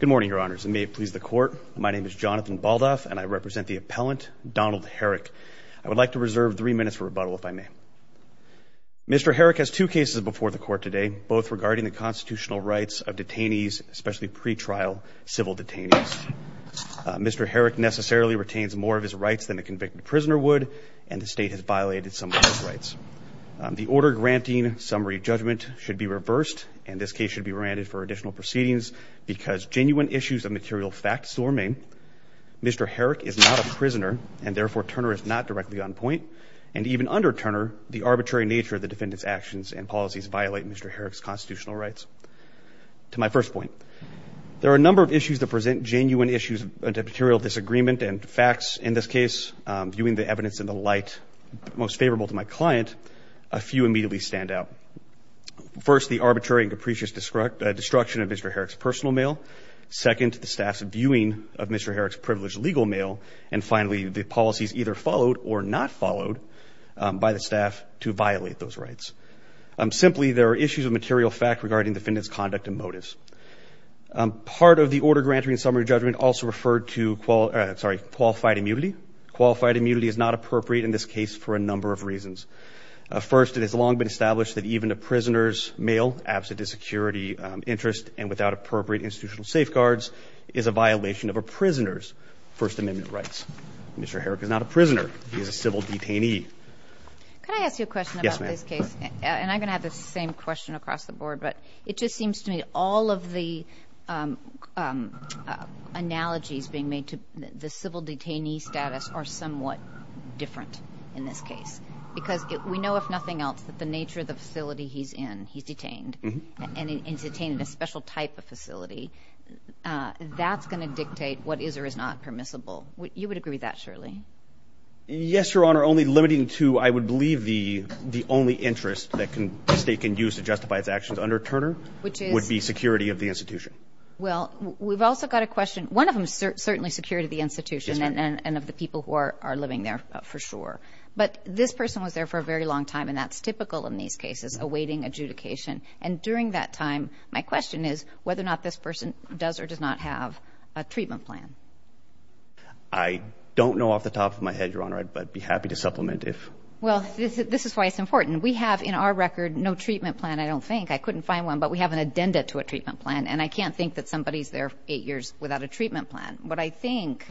Good morning, your honors, and may it please the court, my name is Jonathan Baldoff and I represent the appellant, Donald Herrick. I would like to reserve three minutes for rebuttal if I may. Mr. Herrick has two cases before the court today, both regarding the constitutional rights of detainees, especially pre-trial civil detainees. Mr. Herrick necessarily retains more of his rights than a convicted prisoner would, and the state has violated some of those rights. The order granting summary judgment should be reversed, and this case should be granted for additional proceedings, because genuine issues of material fact still remain. Mr. Herrick is not a prisoner, and therefore Turner is not directly on point. And even under Turner, the arbitrary nature of the defendant's actions and policies violate Mr. Herrick's constitutional rights. To my first point, there are a number of issues that present genuine issues of material disagreement and facts. In this case, viewing the evidence in the light most favorable to my client, a few immediately stand out. First, the arbitrary and capricious destruction of Mr. Herrick's personal mail. Second, the staff's viewing of Mr. Herrick's privileged legal mail. And finally, the policies either followed or not followed by the staff to violate those rights. Simply, there are issues of material fact regarding the defendant's conduct and motives. Part of the order granting summary judgment also referred to qualified immunity. Qualified immunity is not appropriate in this case for a number of reasons. First, it has long been established that even a prisoner's mail, absent a security interest and without appropriate institutional safeguards, is a violation of a prisoner's First Amendment rights. Mr. Herrick is not a prisoner. He is a civil detainee. Yes, ma'am. And I'm going to have the same question across the board. But it just seems to me all of the analogies being made to the civil detainee status are somewhat different in this case. Because we know, if nothing else, that the nature of the facility he's in, he's detained. And he's detained in a special type of facility. That's going to dictate what is or is not permissible. You would agree with that, surely? Yes, Your Honor. Only limiting to, I would believe, the only interest that the State can use to justify its actions under Turner would be security of the institution. Well, we've also got a question. One of them is certainly security of the institution and of the people who are living there, for sure. But this person was there for a very long time, and that's typical in these cases, awaiting adjudication. And during that time, my question is whether or not this person does or does not have a treatment plan. I don't know off the top of my head, Your Honor. I'd be happy to supplement if. Well, this is why it's important. We have, in our record, no treatment plan, I don't think. I couldn't find one. But we have an addenda to a treatment plan. And I can't think that somebody's there eight years without a treatment plan. But I think,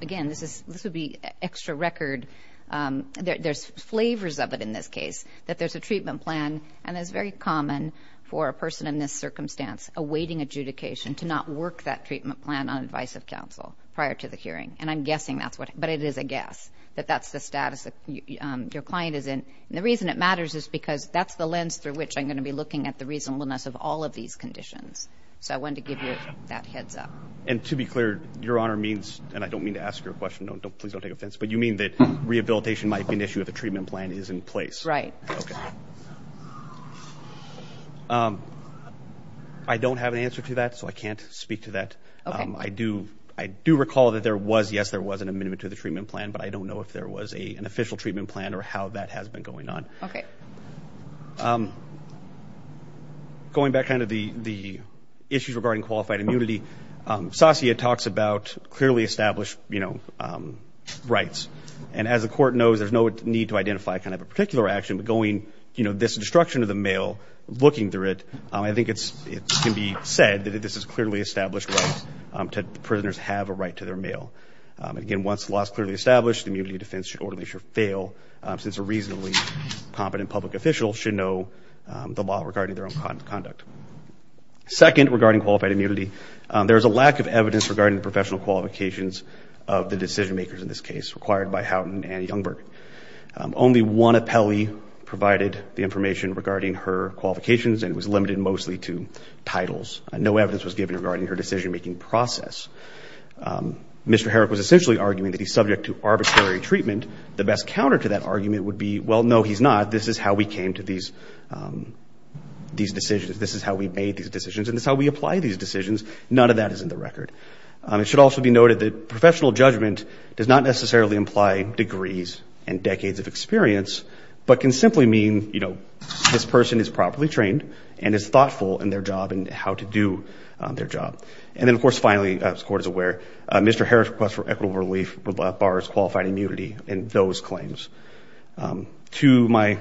again, this would be extra record. There's flavors of it in this case, that there's a treatment plan. And it's very common for a person in this circumstance, awaiting adjudication, to not work that treatment plan on advice of counsel prior to the hearing. And I'm guessing that's what it is. But it is a guess that that's the status that your client is in. And the reason it matters is because that's the lens through which I'm going to be looking at the reasonableness of all of these conditions. So I wanted to give you that heads up. And to be clear, Your Honor, means, and I don't mean to ask you a question. Please don't take offense. But you mean that rehabilitation might be an issue if a treatment plan is in place. Right. I don't have an answer to that, so I can't speak to that. Okay. I do recall that there was, yes, there was an amendment to the treatment plan. But I don't know if there was an official treatment plan or how that has been going on. Okay. Going back to the issues regarding qualified immunity, SASIA talks about clearly established rights. And as the Court knows, there's no need to identify kind of a particular action. But going, you know, this destruction of the mail, looking through it, I think it can be said that this is clearly established rights. Prisoners have a right to their mail. And, again, once the law is clearly established, the immunity defense orderly should fail, since a reasonably competent public official should know the law regarding their own conduct. Second, regarding qualified immunity, there is a lack of evidence regarding the professional qualifications of the decision-makers in this case, required by Houghton and Youngberg. Only one appellee provided the information regarding her qualifications, and it was limited mostly to titles. No evidence was given regarding her decision-making process. Mr. Herrick was essentially arguing that he's subject to arbitrary treatment. The best counter to that argument would be, well, no, he's not. This is how we came to these decisions. This is how we made these decisions, and this is how we apply these decisions. None of that is in the record. It should also be noted that professional judgment does not necessarily imply degrees and decades of experience, but can simply mean, you know, this person is properly trained and is thoughtful in their job and how to do their job. And then, of course, finally, as the Court is aware, Mr. Herrick's request for equitable relief borrows qualified immunity in those claims. To my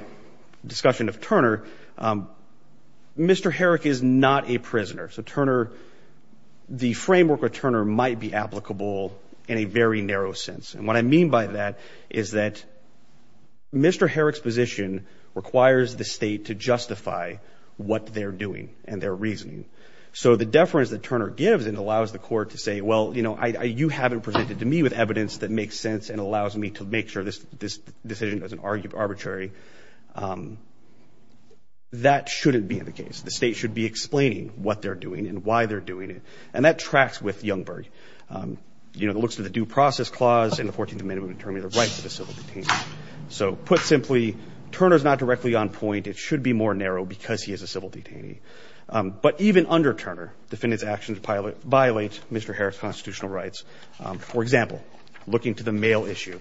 discussion of Turner, Mr. Herrick is not a prisoner. So Turner, the framework of Turner might be applicable in a very narrow sense. And what I mean by that is that Mr. Herrick's position requires the State to justify what they're doing and their reasoning. So the deference that Turner gives and allows the Court to say, well, you know, this decision doesn't argue arbitrary, that shouldn't be the case. The State should be explaining what they're doing and why they're doing it. And that tracks with Youngberg. You know, it looks to the due process clause in the 14th Amendment to determine the rights of a civil detainee. So put simply, Turner is not directly on point. It should be more narrow because he is a civil detainee. But even under Turner, defendant's actions violate Mr. Herrick's constitutional rights. For example, looking to the mail issue.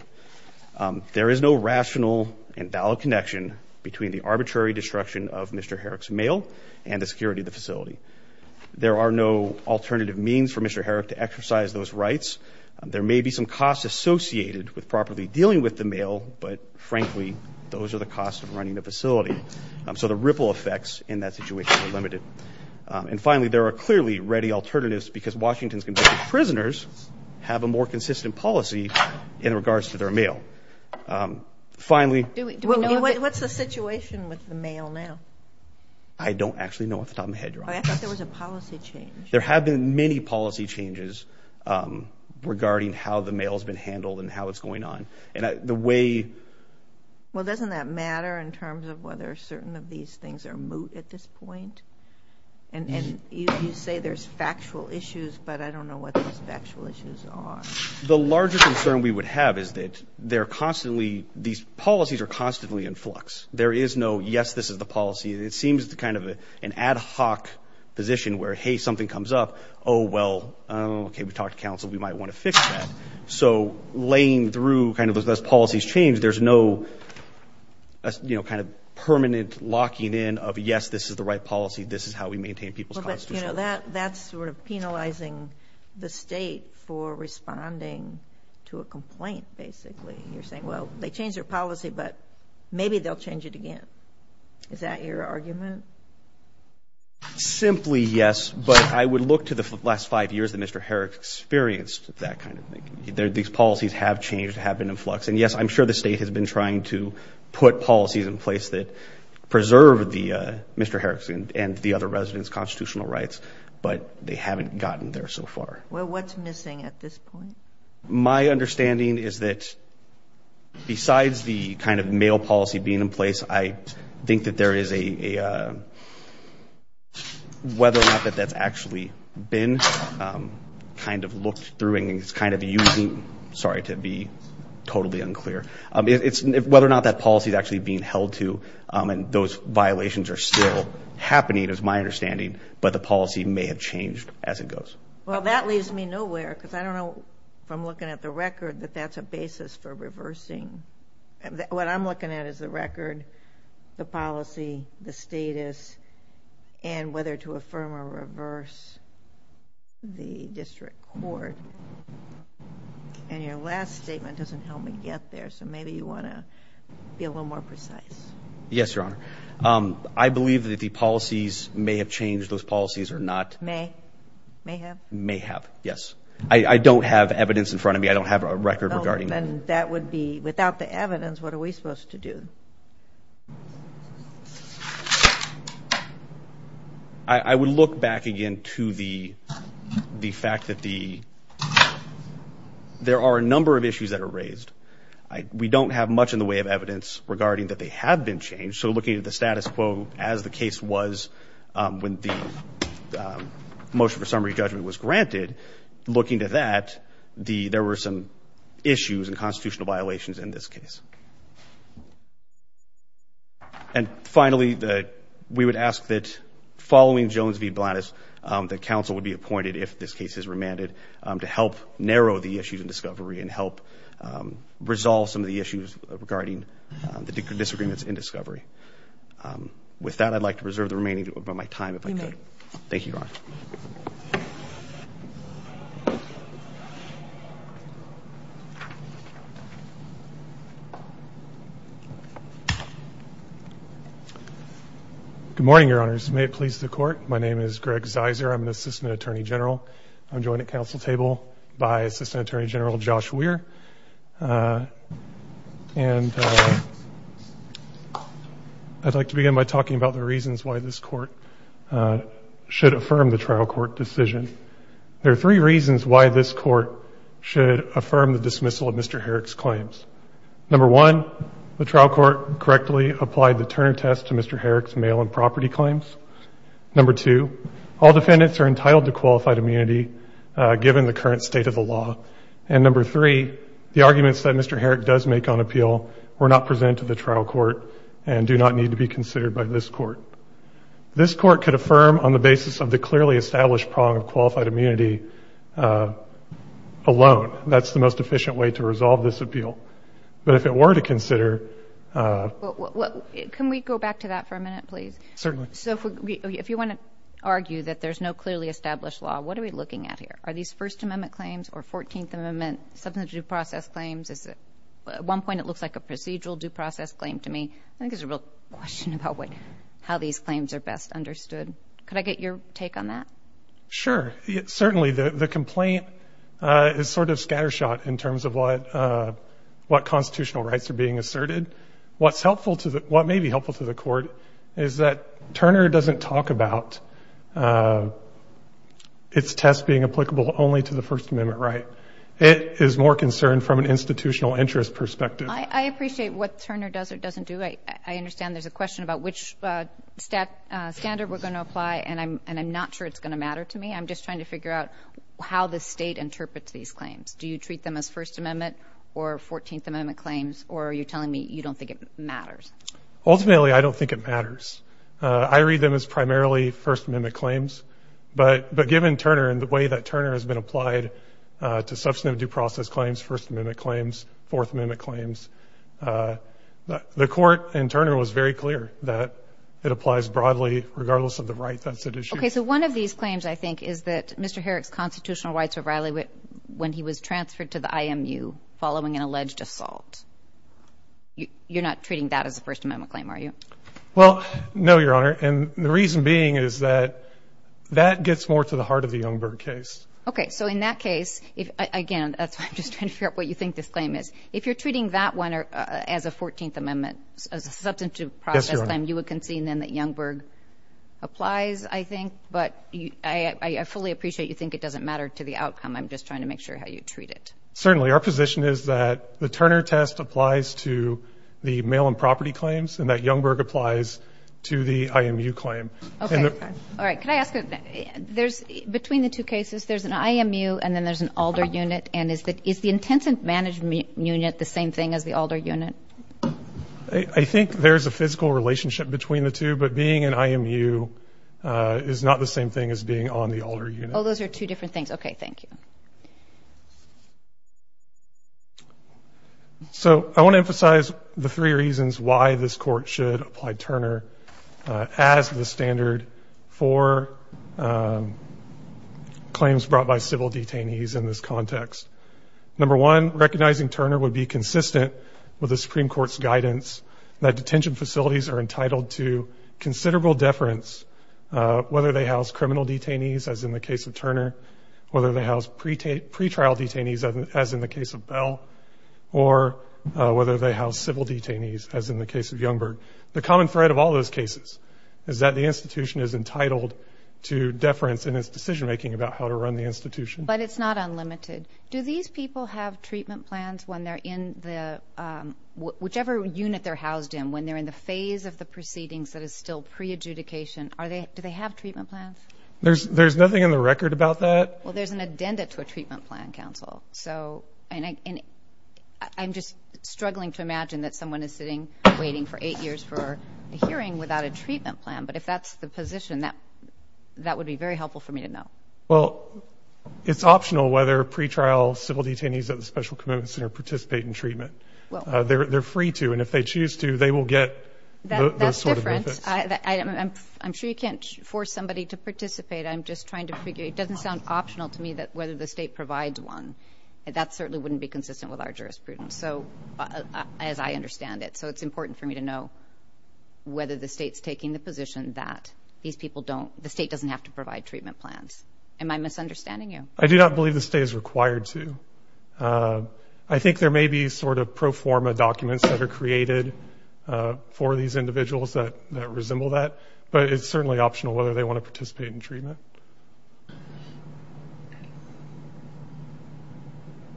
There is no rational and valid connection between the arbitrary destruction of Mr. Herrick's mail and the security of the facility. There are no alternative means for Mr. Herrick to exercise those rights. There may be some costs associated with properly dealing with the mail, but frankly, those are the costs of running the facility. And finally, there are clearly ready alternatives because Washington's convicted prisoners have a more consistent policy in regards to their mail. Finally. What's the situation with the mail now? I don't actually know off the top of my head, Your Honor. I thought there was a policy change. There have been many policy changes regarding how the mail has been handled and how it's going on. Well, doesn't that matter in terms of whether certain of these things are moot at this point? And you say there's factual issues, but I don't know what those factual issues are. The larger concern we would have is that they're constantly, these policies are constantly in flux. There is no yes, this is the policy. It seems kind of an ad hoc position where, hey, something comes up. Oh, well, okay, we talked to counsel. We might want to fix that. So laying through kind of those policies change, there's no, you know, kind of permanent locking in of yes, this is the right policy, this is how we maintain people's constitutional rights. Well, that's sort of penalizing the state for responding to a complaint, basically. You're saying, well, they changed their policy, but maybe they'll change it again. Is that your argument? Simply yes, but I would look to the last five years that Mr. Herrick experienced that kind of thing. These policies have changed, have been in flux. And, yes, I'm sure the state has been trying to put policies in place that preserve Mr. Herrick's and the other residents' constitutional rights, but they haven't gotten there so far. Well, what's missing at this point? My understanding is that besides the kind of mail policy being in place, I think that there is a whether or not that that's actually been kind of looked through, and it's kind of using, sorry, to be totally unclear. It's whether or not that policy is actually being held to, and those violations are still happening is my understanding, but the policy may have changed as it goes. Well, that leaves me nowhere because I don't know if I'm looking at the record that that's a basis for reversing. What I'm looking at is the record, the policy, the status, and whether to affirm or reverse the district court. And your last statement doesn't help me get there, so maybe you want to be a little more precise. Yes, Your Honor. I believe that the policies may have changed. Those policies are not. May? May have? May have, yes. I don't have evidence in front of me. I don't have a record regarding that. And that would be without the evidence, what are we supposed to do? I would look back again to the fact that there are a number of issues that are raised. We don't have much in the way of evidence regarding that they have been changed, so looking at the status quo as the case was when the motion for summary judgment was granted, looking to that, there were some issues and constitutional violations in this case. And finally, we would ask that following Jones v. Blattis, that counsel would be appointed if this case is remanded to help narrow the issues in discovery and help resolve some of the issues regarding the disagreements in discovery. With that, I'd like to reserve the remaining of my time if I could. You may. Thank you, Your Honor. Good morning, Your Honors. May it please the Court. My name is Greg Zeiser. I'm an Assistant Attorney General. I'm joined at council table by Assistant Attorney General Josh Weir. And I'd like to begin by talking about the reasons why this Court should affirm the trial court decision. There are three reasons why this Court should affirm the dismissal of Mr. Herrick's claims. Number one, the trial court correctly applied the Turner test to Mr. Herrick's mail and property claims. Number two, all defendants are entitled to qualified immunity given the current state of the law. And number three, the arguments that Mr. Herrick does make on appeal were not presented to the trial court and do not need to be considered by this Court. This Court could affirm on the basis of the clearly established prong of qualified immunity alone. That's the most efficient way to resolve this appeal. But if it were to consider ---- Can we go back to that for a minute, please? Certainly. So if you want to argue that there's no clearly established law, what are we looking at here? Are these First Amendment claims or Fourteenth Amendment substantive due process claims? At one point it looks like a procedural due process claim to me. I think there's a real question about how these claims are best understood. Could I get your take on that? Sure. Certainly. The complaint is sort of scattershot in terms of what constitutional rights are being asserted. What may be helpful to the Court is that Turner doesn't talk about its test being applicable only to the First Amendment right. It is more concerned from an institutional interest perspective. I appreciate what Turner does or doesn't do. I understand there's a question about which standard we're going to apply, and I'm not sure it's going to matter to me. I'm just trying to figure out how the State interprets these claims. Do you treat them as First Amendment or Fourteenth Amendment claims, or are you telling me you don't think it matters? Ultimately, I don't think it matters. I read them as primarily First Amendment claims. But given Turner and the way that Turner has been applied to substantive due process claims, First Amendment claims, Fourth Amendment claims, the Court and Turner was very clear that it applies broadly regardless of the right that's at issue. Okay, so one of these claims, I think, is that Mr. Herrick's constitutional rights were violated when he was transferred to the IMU following an alleged assault. You're not treating that as a First Amendment claim, are you? Well, no, Your Honor, and the reason being is that that gets more to the heart of the Youngberg case. Okay, so in that case, again, that's why I'm just trying to figure out what you think this claim is. If you're treating that one as a Fourteenth Amendment, as a substantive due process claim, you would concede then that Youngberg applies, I think, but I fully appreciate you think it doesn't matter to the outcome. I'm just trying to make sure how you treat it. Certainly. Our position is that the Turner test applies to the mail and property claims and that Youngberg applies to the IMU claim. Okay. All right. Could I ask, between the two cases, there's an IMU and then there's an ALDER unit, and is the Intensive Management Unit the same thing as the ALDER unit? I think there's a physical relationship between the two, but being in IMU is not the same thing as being on the ALDER unit. Oh, those are two different things. Okay, thank you. So I want to emphasize the three reasons why this Court should apply Turner as the standard for claims brought by civil detainees in this context. Number one, recognizing Turner would be consistent with the Supreme Court's guidance that detention facilities are entitled to considerable deference, whether they house criminal detainees, as in the case of Turner, whether they house pretrial detainees, as in the case of Bell, or whether they house civil detainees, as in the case of Youngberg. The common thread of all those cases is that the institution is entitled to deference in its decision-making about how to run the institution. But it's not unlimited. Do these people have treatment plans when they're in the – whichever unit they're housed in, when they're in the phase of the proceedings that is still pre-adjudication, do they have treatment plans? There's nothing in the record about that. Well, there's an addenda to a treatment plan, Counsel. And I'm just struggling to imagine that someone is sitting waiting for eight years for a hearing without a treatment plan. But if that's the position, that would be very helpful for me to know. Well, it's optional whether pretrial civil detainees at the Special Commitment Center participate in treatment. They're free to. And if they choose to, they will get those sort of benefits. That's different. I'm sure you can't force somebody to participate. I'm just trying to figure – it doesn't sound optional to me whether the state provides one. That certainly wouldn't be consistent with our jurisprudence, as I understand it. So it's important for me to know whether the state's taking the position that these people don't – the state doesn't have to provide treatment plans. Am I misunderstanding you? I do not believe the state is required to. I think there may be sort of pro forma documents that are created for these individuals that resemble that. But it's certainly optional whether they want to participate in treatment.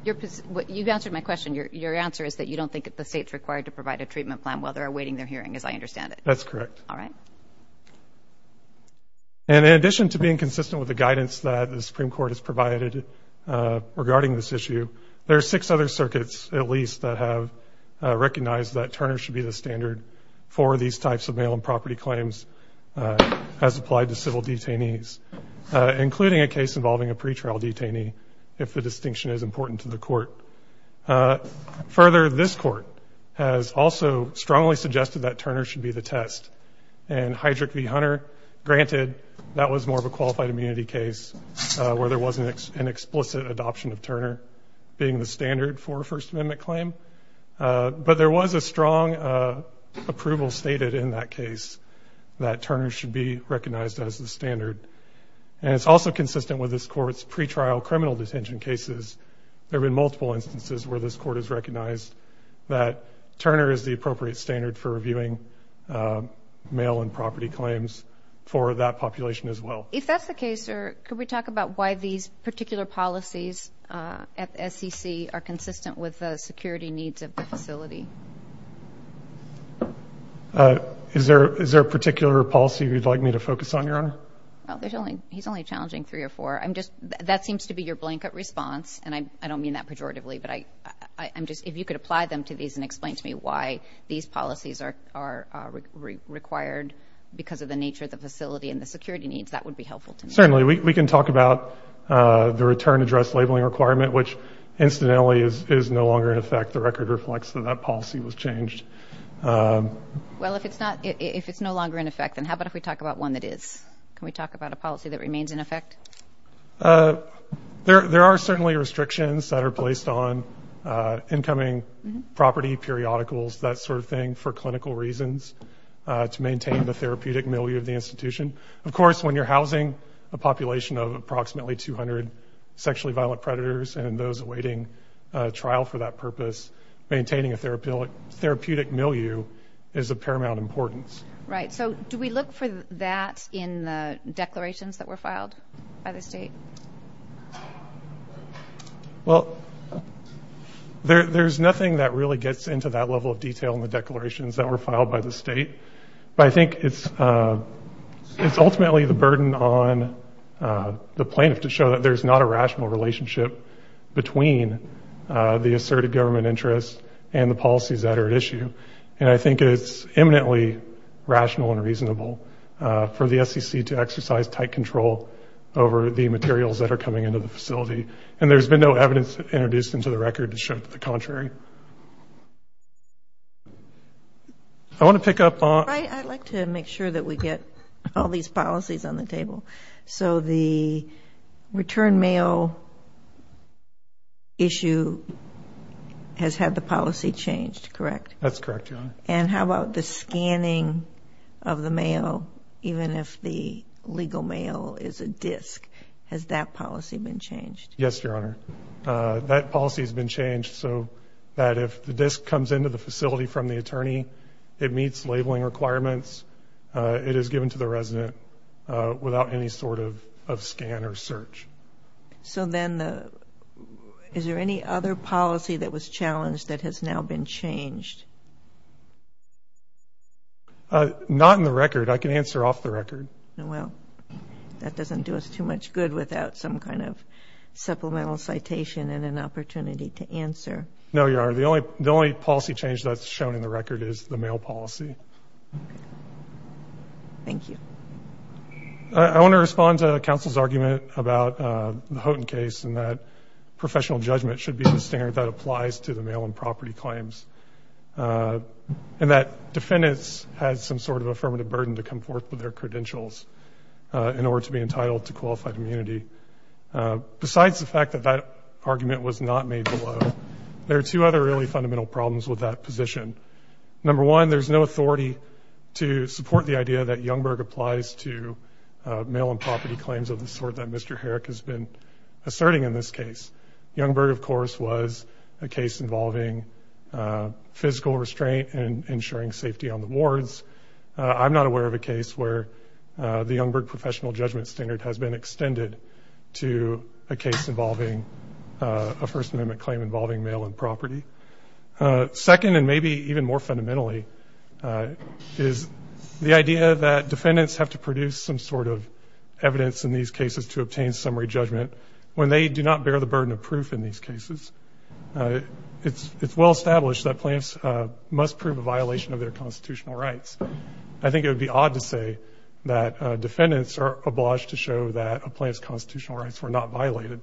You've answered my question. Your answer is that you don't think that the state's required to provide a treatment plan while they're awaiting their hearing, as I understand it. That's correct. All right. And in addition to being consistent with the guidance that the Supreme Court has provided regarding this issue, there are six other circuits, at least, that have recognized that Turner should be the standard for these types of mail and property claims as applied to civil detainees, including a case involving a pretrial detainee, if the distinction is important to the court. Further, this court has also strongly suggested that Turner should be the test. And Heydrich v. Hunter, granted, that was more of a qualified immunity case where there wasn't an explicit adoption of Turner being the standard for a First Amendment claim. But there was a strong approval stated in that case that Turner should be recognized as the standard. And it's also consistent with this court's pretrial criminal detention cases. There have been multiple instances where this court has recognized that Turner is the appropriate standard for reviewing mail and property claims for that population as well. If that's the case, sir, Could we talk about why these particular policies at SEC are consistent with the security needs of the facility? Is there a particular policy you'd like me to focus on, Your Honor? He's only challenging three or four. That seems to be your blanket response, and I don't mean that pejoratively, but if you could apply them to these and explain to me why these policies are required because of the nature of the facility and the security needs, that would be helpful to me. Certainly. We can talk about the return address labeling requirement, which incidentally is no longer in effect. The record reflects that that policy was changed. Well, if it's no longer in effect, then how about if we talk about one that is? Can we talk about a policy that remains in effect? There are certainly restrictions that are placed on incoming property, periodicals, that sort of thing, for clinical reasons to maintain the therapeutic milieu of the institution. Of course, when you're housing a population of approximately 200 sexually violent predators and those awaiting trial for that purpose, maintaining a therapeutic milieu is of paramount importance. Right. So do we look for that in the declarations that were filed by the state? Well, there's nothing that really gets into that level of detail in the declarations that were filed by the state. But I think it's ultimately the burden on the plaintiff to show that there's not a rational relationship between the asserted government interest and the policies that are at issue. And I think it's eminently rational and reasonable for the SEC to exercise tight control over the materials that are coming into the facility. And there's been no evidence introduced into the record to show the contrary. I want to pick up on- I'd like to make sure that we get all these policies on the table. So the return mail issue has had the policy changed, correct? That's correct, Your Honor. And how about the scanning of the mail, even if the legal mail is a disk? Has that policy been changed? Yes, Your Honor. That policy has been changed so that if the disk comes into the facility from the attorney, it meets labeling requirements, it is given to the resident without any sort of scan or search. So then is there any other policy that was challenged that has now been changed? Not in the record. I can answer off the record. Well, that doesn't do us too much good without some kind of supplemental citation and an opportunity to answer. No, Your Honor. The only policy change that's shown in the record is the mail policy. Thank you. I want to respond to counsel's argument about the Houghton case and that professional judgment should be the standard that applies to the mail and property claims and that defendants have some sort of affirmative burden to come forth with their credentials in order to be entitled to qualified immunity. Besides the fact that that argument was not made below, there are two other really fundamental problems with that position. Number one, there's no authority to support the idea that Youngberg applies to mail and property claims of the sort that Mr. Herrick has been asserting in this case. Youngberg, of course, was a case involving physical restraint and ensuring safety on the wards. I'm not aware of a case where the Youngberg professional judgment standard has been extended to a case involving a First Amendment claim involving mail and property. Second, and maybe even more fundamentally, is the idea that defendants have to produce some sort of evidence in these cases to obtain summary judgment when they do not bear the burden of proof in these cases. It's well established that plaintiffs must prove a violation of their constitutional rights. I think it would be odd to say that defendants are obliged to show that a plaintiff's constitutional rights were not violated.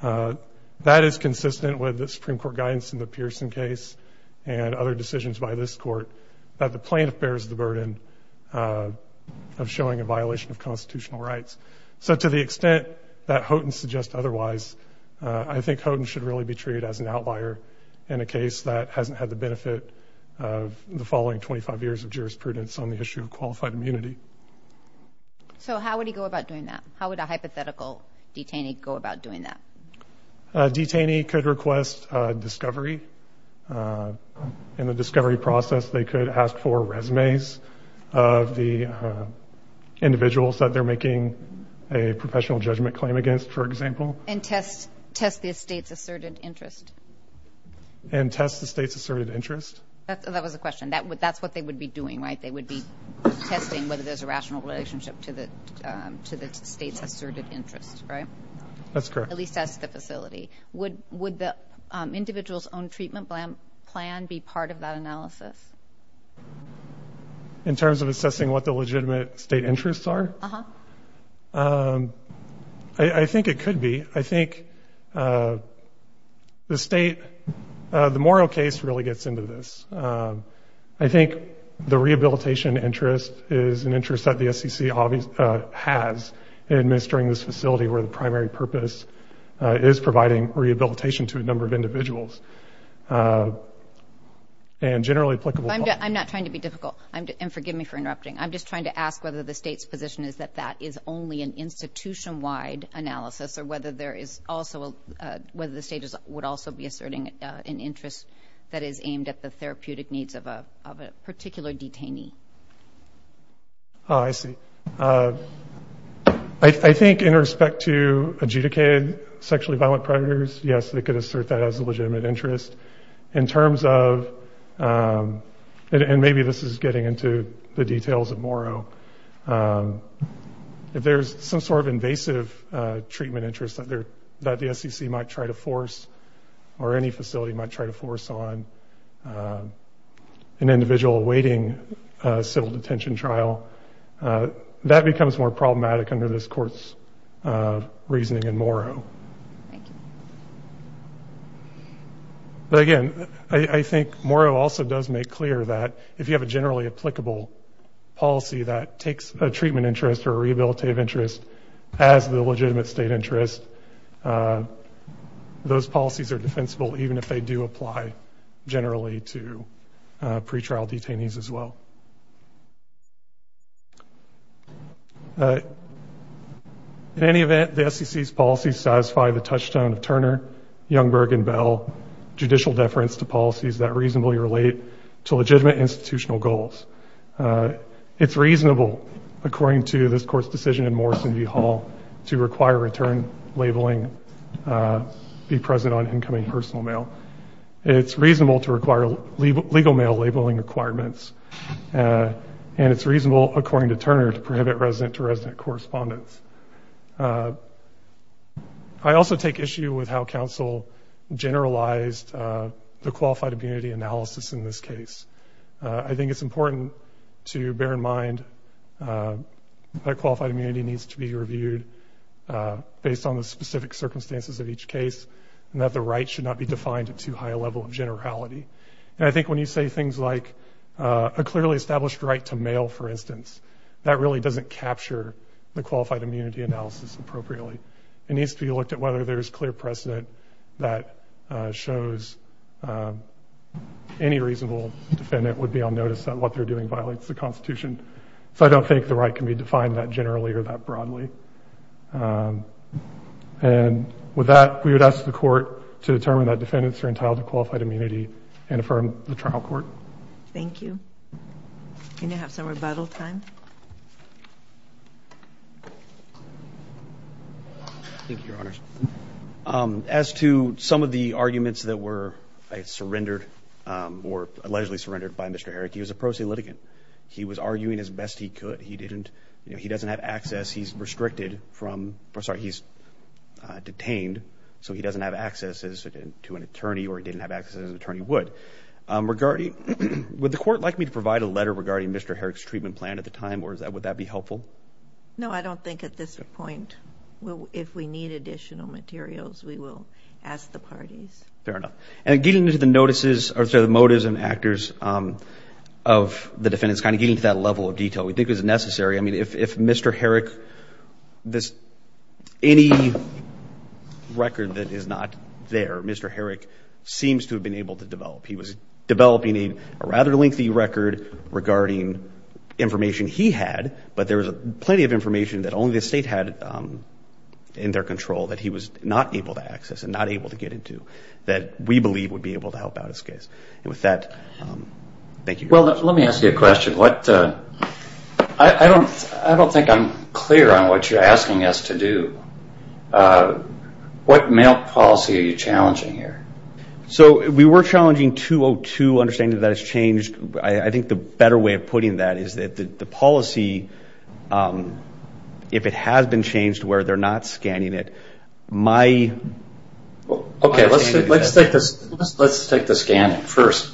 That is consistent with the Supreme Court guidance in the Pearson case and other decisions by this Court that the plaintiff bears the burden of showing a violation of constitutional rights. So to the extent that Houghton suggests otherwise, I think Houghton should really be treated as an outlier in a case that hasn't had the benefit of the following 25 years of jurisprudence on the issue of qualified immunity. So how would he go about doing that? How would a hypothetical detainee go about doing that? A detainee could request discovery. In the discovery process, they could ask for resumes of the individuals that they're making a professional judgment claim against, for example. And test the state's asserted interest? And test the state's asserted interest? That was the question. That's what they would be doing, right? They would be testing whether there's a rational relationship to the state's asserted interest, right? That's correct. At least that's the facility. Would the individual's own treatment plan be part of that analysis? In terms of assessing what the legitimate state interests are? Uh-huh. I think it could be. I think the moral case really gets into this. I think the rehabilitation interest is an interest that the SEC has in administering this facility where the primary purpose is providing rehabilitation to a number of individuals. And generally applicable. I'm not trying to be difficult. And forgive me for interrupting. I'm just trying to ask whether the state's position is that that is only an institution-wide analysis or whether the state would also be asserting an interest that is aimed at the therapeutic needs of a particular detainee. Oh, I see. I think in respect to adjudicated sexually violent predators, yes, they could assert that as a legitimate interest. In terms of, and maybe this is getting into the details of Morrow, if there's some sort of invasive treatment interest that the SEC might try to force or any facility might try to force on an individual awaiting a civil detention trial, that becomes more problematic under this Court's reasoning in Morrow. Thank you. But again, I think Morrow also does make clear that if you have a generally applicable policy that takes a treatment interest or a rehabilitative interest as the legitimate state interest, those policies are defensible even if they do apply generally to pretrial detainees as well. In any event, the SEC's policies satisfy the touchstone of Turner, Youngberg, and Bell, judicial deference to policies that reasonably relate to legitimate institutional goals. It's reasonable, according to this Court's decision in Morrison v. Hall, to require return labeling be present on incoming personal mail. It's reasonable to require legal mail labeling requirements, and it's reasonable, according to Turner, to prohibit resident-to-resident correspondence. I also take issue with how counsel generalized the qualified immunity analysis in this case. I think it's important to bear in mind that qualified immunity needs to be reviewed based on the specific circumstances of each case and that the right should not be defined at too high a level of generality. And I think when you say things like a clearly established right to mail, for instance, that really doesn't capture the qualified immunity analysis appropriately. It needs to be looked at whether there's clear precedent that shows any reasonable defendant would be on notice that what they're doing violates the Constitution. So I don't think the right can be defined that generally or that broadly. And with that, we would ask the Court to determine that defendants are entitled to qualified immunity and affirm the trial court. Thank you. Can you have some rebuttal time? Thank you, Your Honors. As to some of the arguments that were surrendered or allegedly surrendered by Mr. Herrick, he was a pro se litigant. He was arguing as best he could. He didn't – you know, he doesn't have access. He's restricted from – or, sorry, he's detained, so he doesn't have access to an attorney or he didn't have access as an attorney would. Would the Court like me to provide a letter regarding Mr. Herrick's treatment plan at the time, or would that be helpful? No, I don't think at this point. If we need additional materials, we will ask the parties. Fair enough. And getting to the notices – or, sorry, the motives and actors of the defendants, kind of getting to that level of detail we think is necessary. I mean, if Mr. Herrick – any record that is not there, Mr. Herrick seems to have been able to develop. He was developing a rather lengthy record regarding information he had, but there was plenty of information that only the State had in their control that he was not able to access and not able to get into that we believe would be able to help out his case. And with that, thank you. Well, let me ask you a question. What – I don't think I'm clear on what you're asking us to do. What mail policy are you challenging here? So we were challenging 202, understanding that that has changed. I think the better way of putting that is that the policy, if it has been changed where they're not scanning it, my – Okay, let's take the scanning first.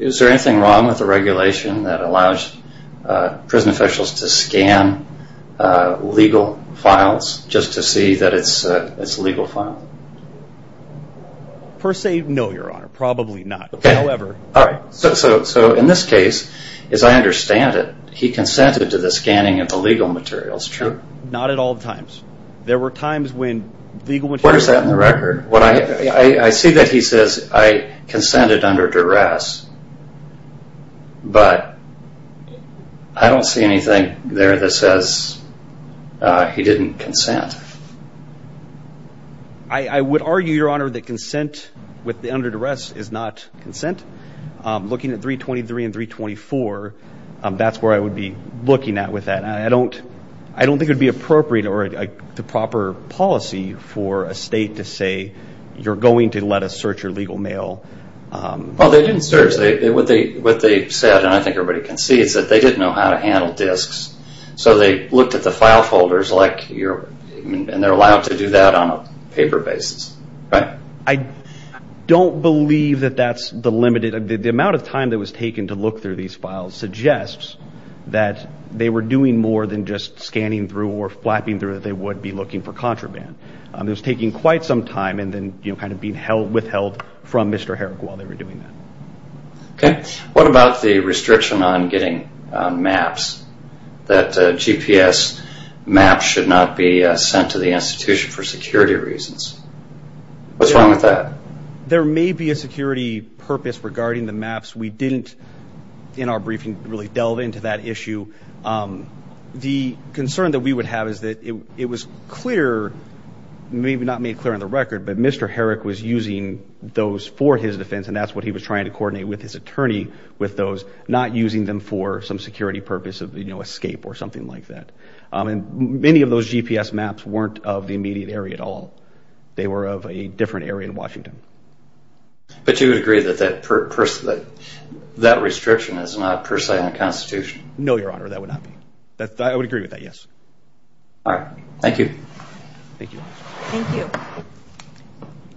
Is there anything wrong with the regulation that allows prison officials to scan legal files just to see that it's legal file? Per se, no, Your Honor. Probably not. Okay. However – All right. So in this case, as I understand it, he consented to the scanning of the legal materials. True. Not at all times. There were times when legal – Where is that in the record? I see that he says, I consented under duress, but I don't see anything there that says he didn't consent. I would argue, Your Honor, that consent with the under duress is not consent. Looking at 323 and 324, that's where I would be looking at with that. I don't think it would be appropriate or the proper policy for a state to say, you're going to let us search your legal mail. Well, they didn't search. What they said, and I think everybody can see, is that they didn't know how to handle disks. So they looked at the file folders, and they're allowed to do that on a paper basis. Right? I don't believe that that's the limited – the amount of time that was taken to look through these files suggests that they were doing more than just scanning through or flapping through that they would be looking for contraband. It was taking quite some time and then kind of being withheld from Mr. Herrick while they were doing that. Okay. What about the restriction on getting maps, that GPS maps should not be sent to the institution for security reasons? What's wrong with that? There may be a security purpose regarding the maps. We didn't, in our briefing, really delve into that issue. The concern that we would have is that it was clear, maybe not made clear on the record, but Mr. Herrick was using those for his defense, and that's what he was trying to coordinate with his attorney with those, not using them for some security purpose of escape or something like that. And many of those GPS maps weren't of the immediate area at all. They were of a different area in Washington. But you would agree that that restriction is not per se unconstitutional? No, Your Honor, that would not be. I would agree with that, yes. All right. Thank you. Thank you. Thank you.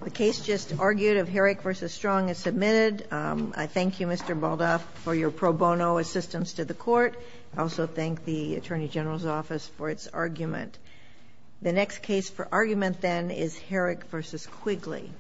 The case just argued of Herrick v. Strong is submitted. I thank you, Mr. Baldoff, for your pro bono assistance to the court. I also thank the Attorney General's Office for its argument. The next case for argument then is Herrick v. Quigley.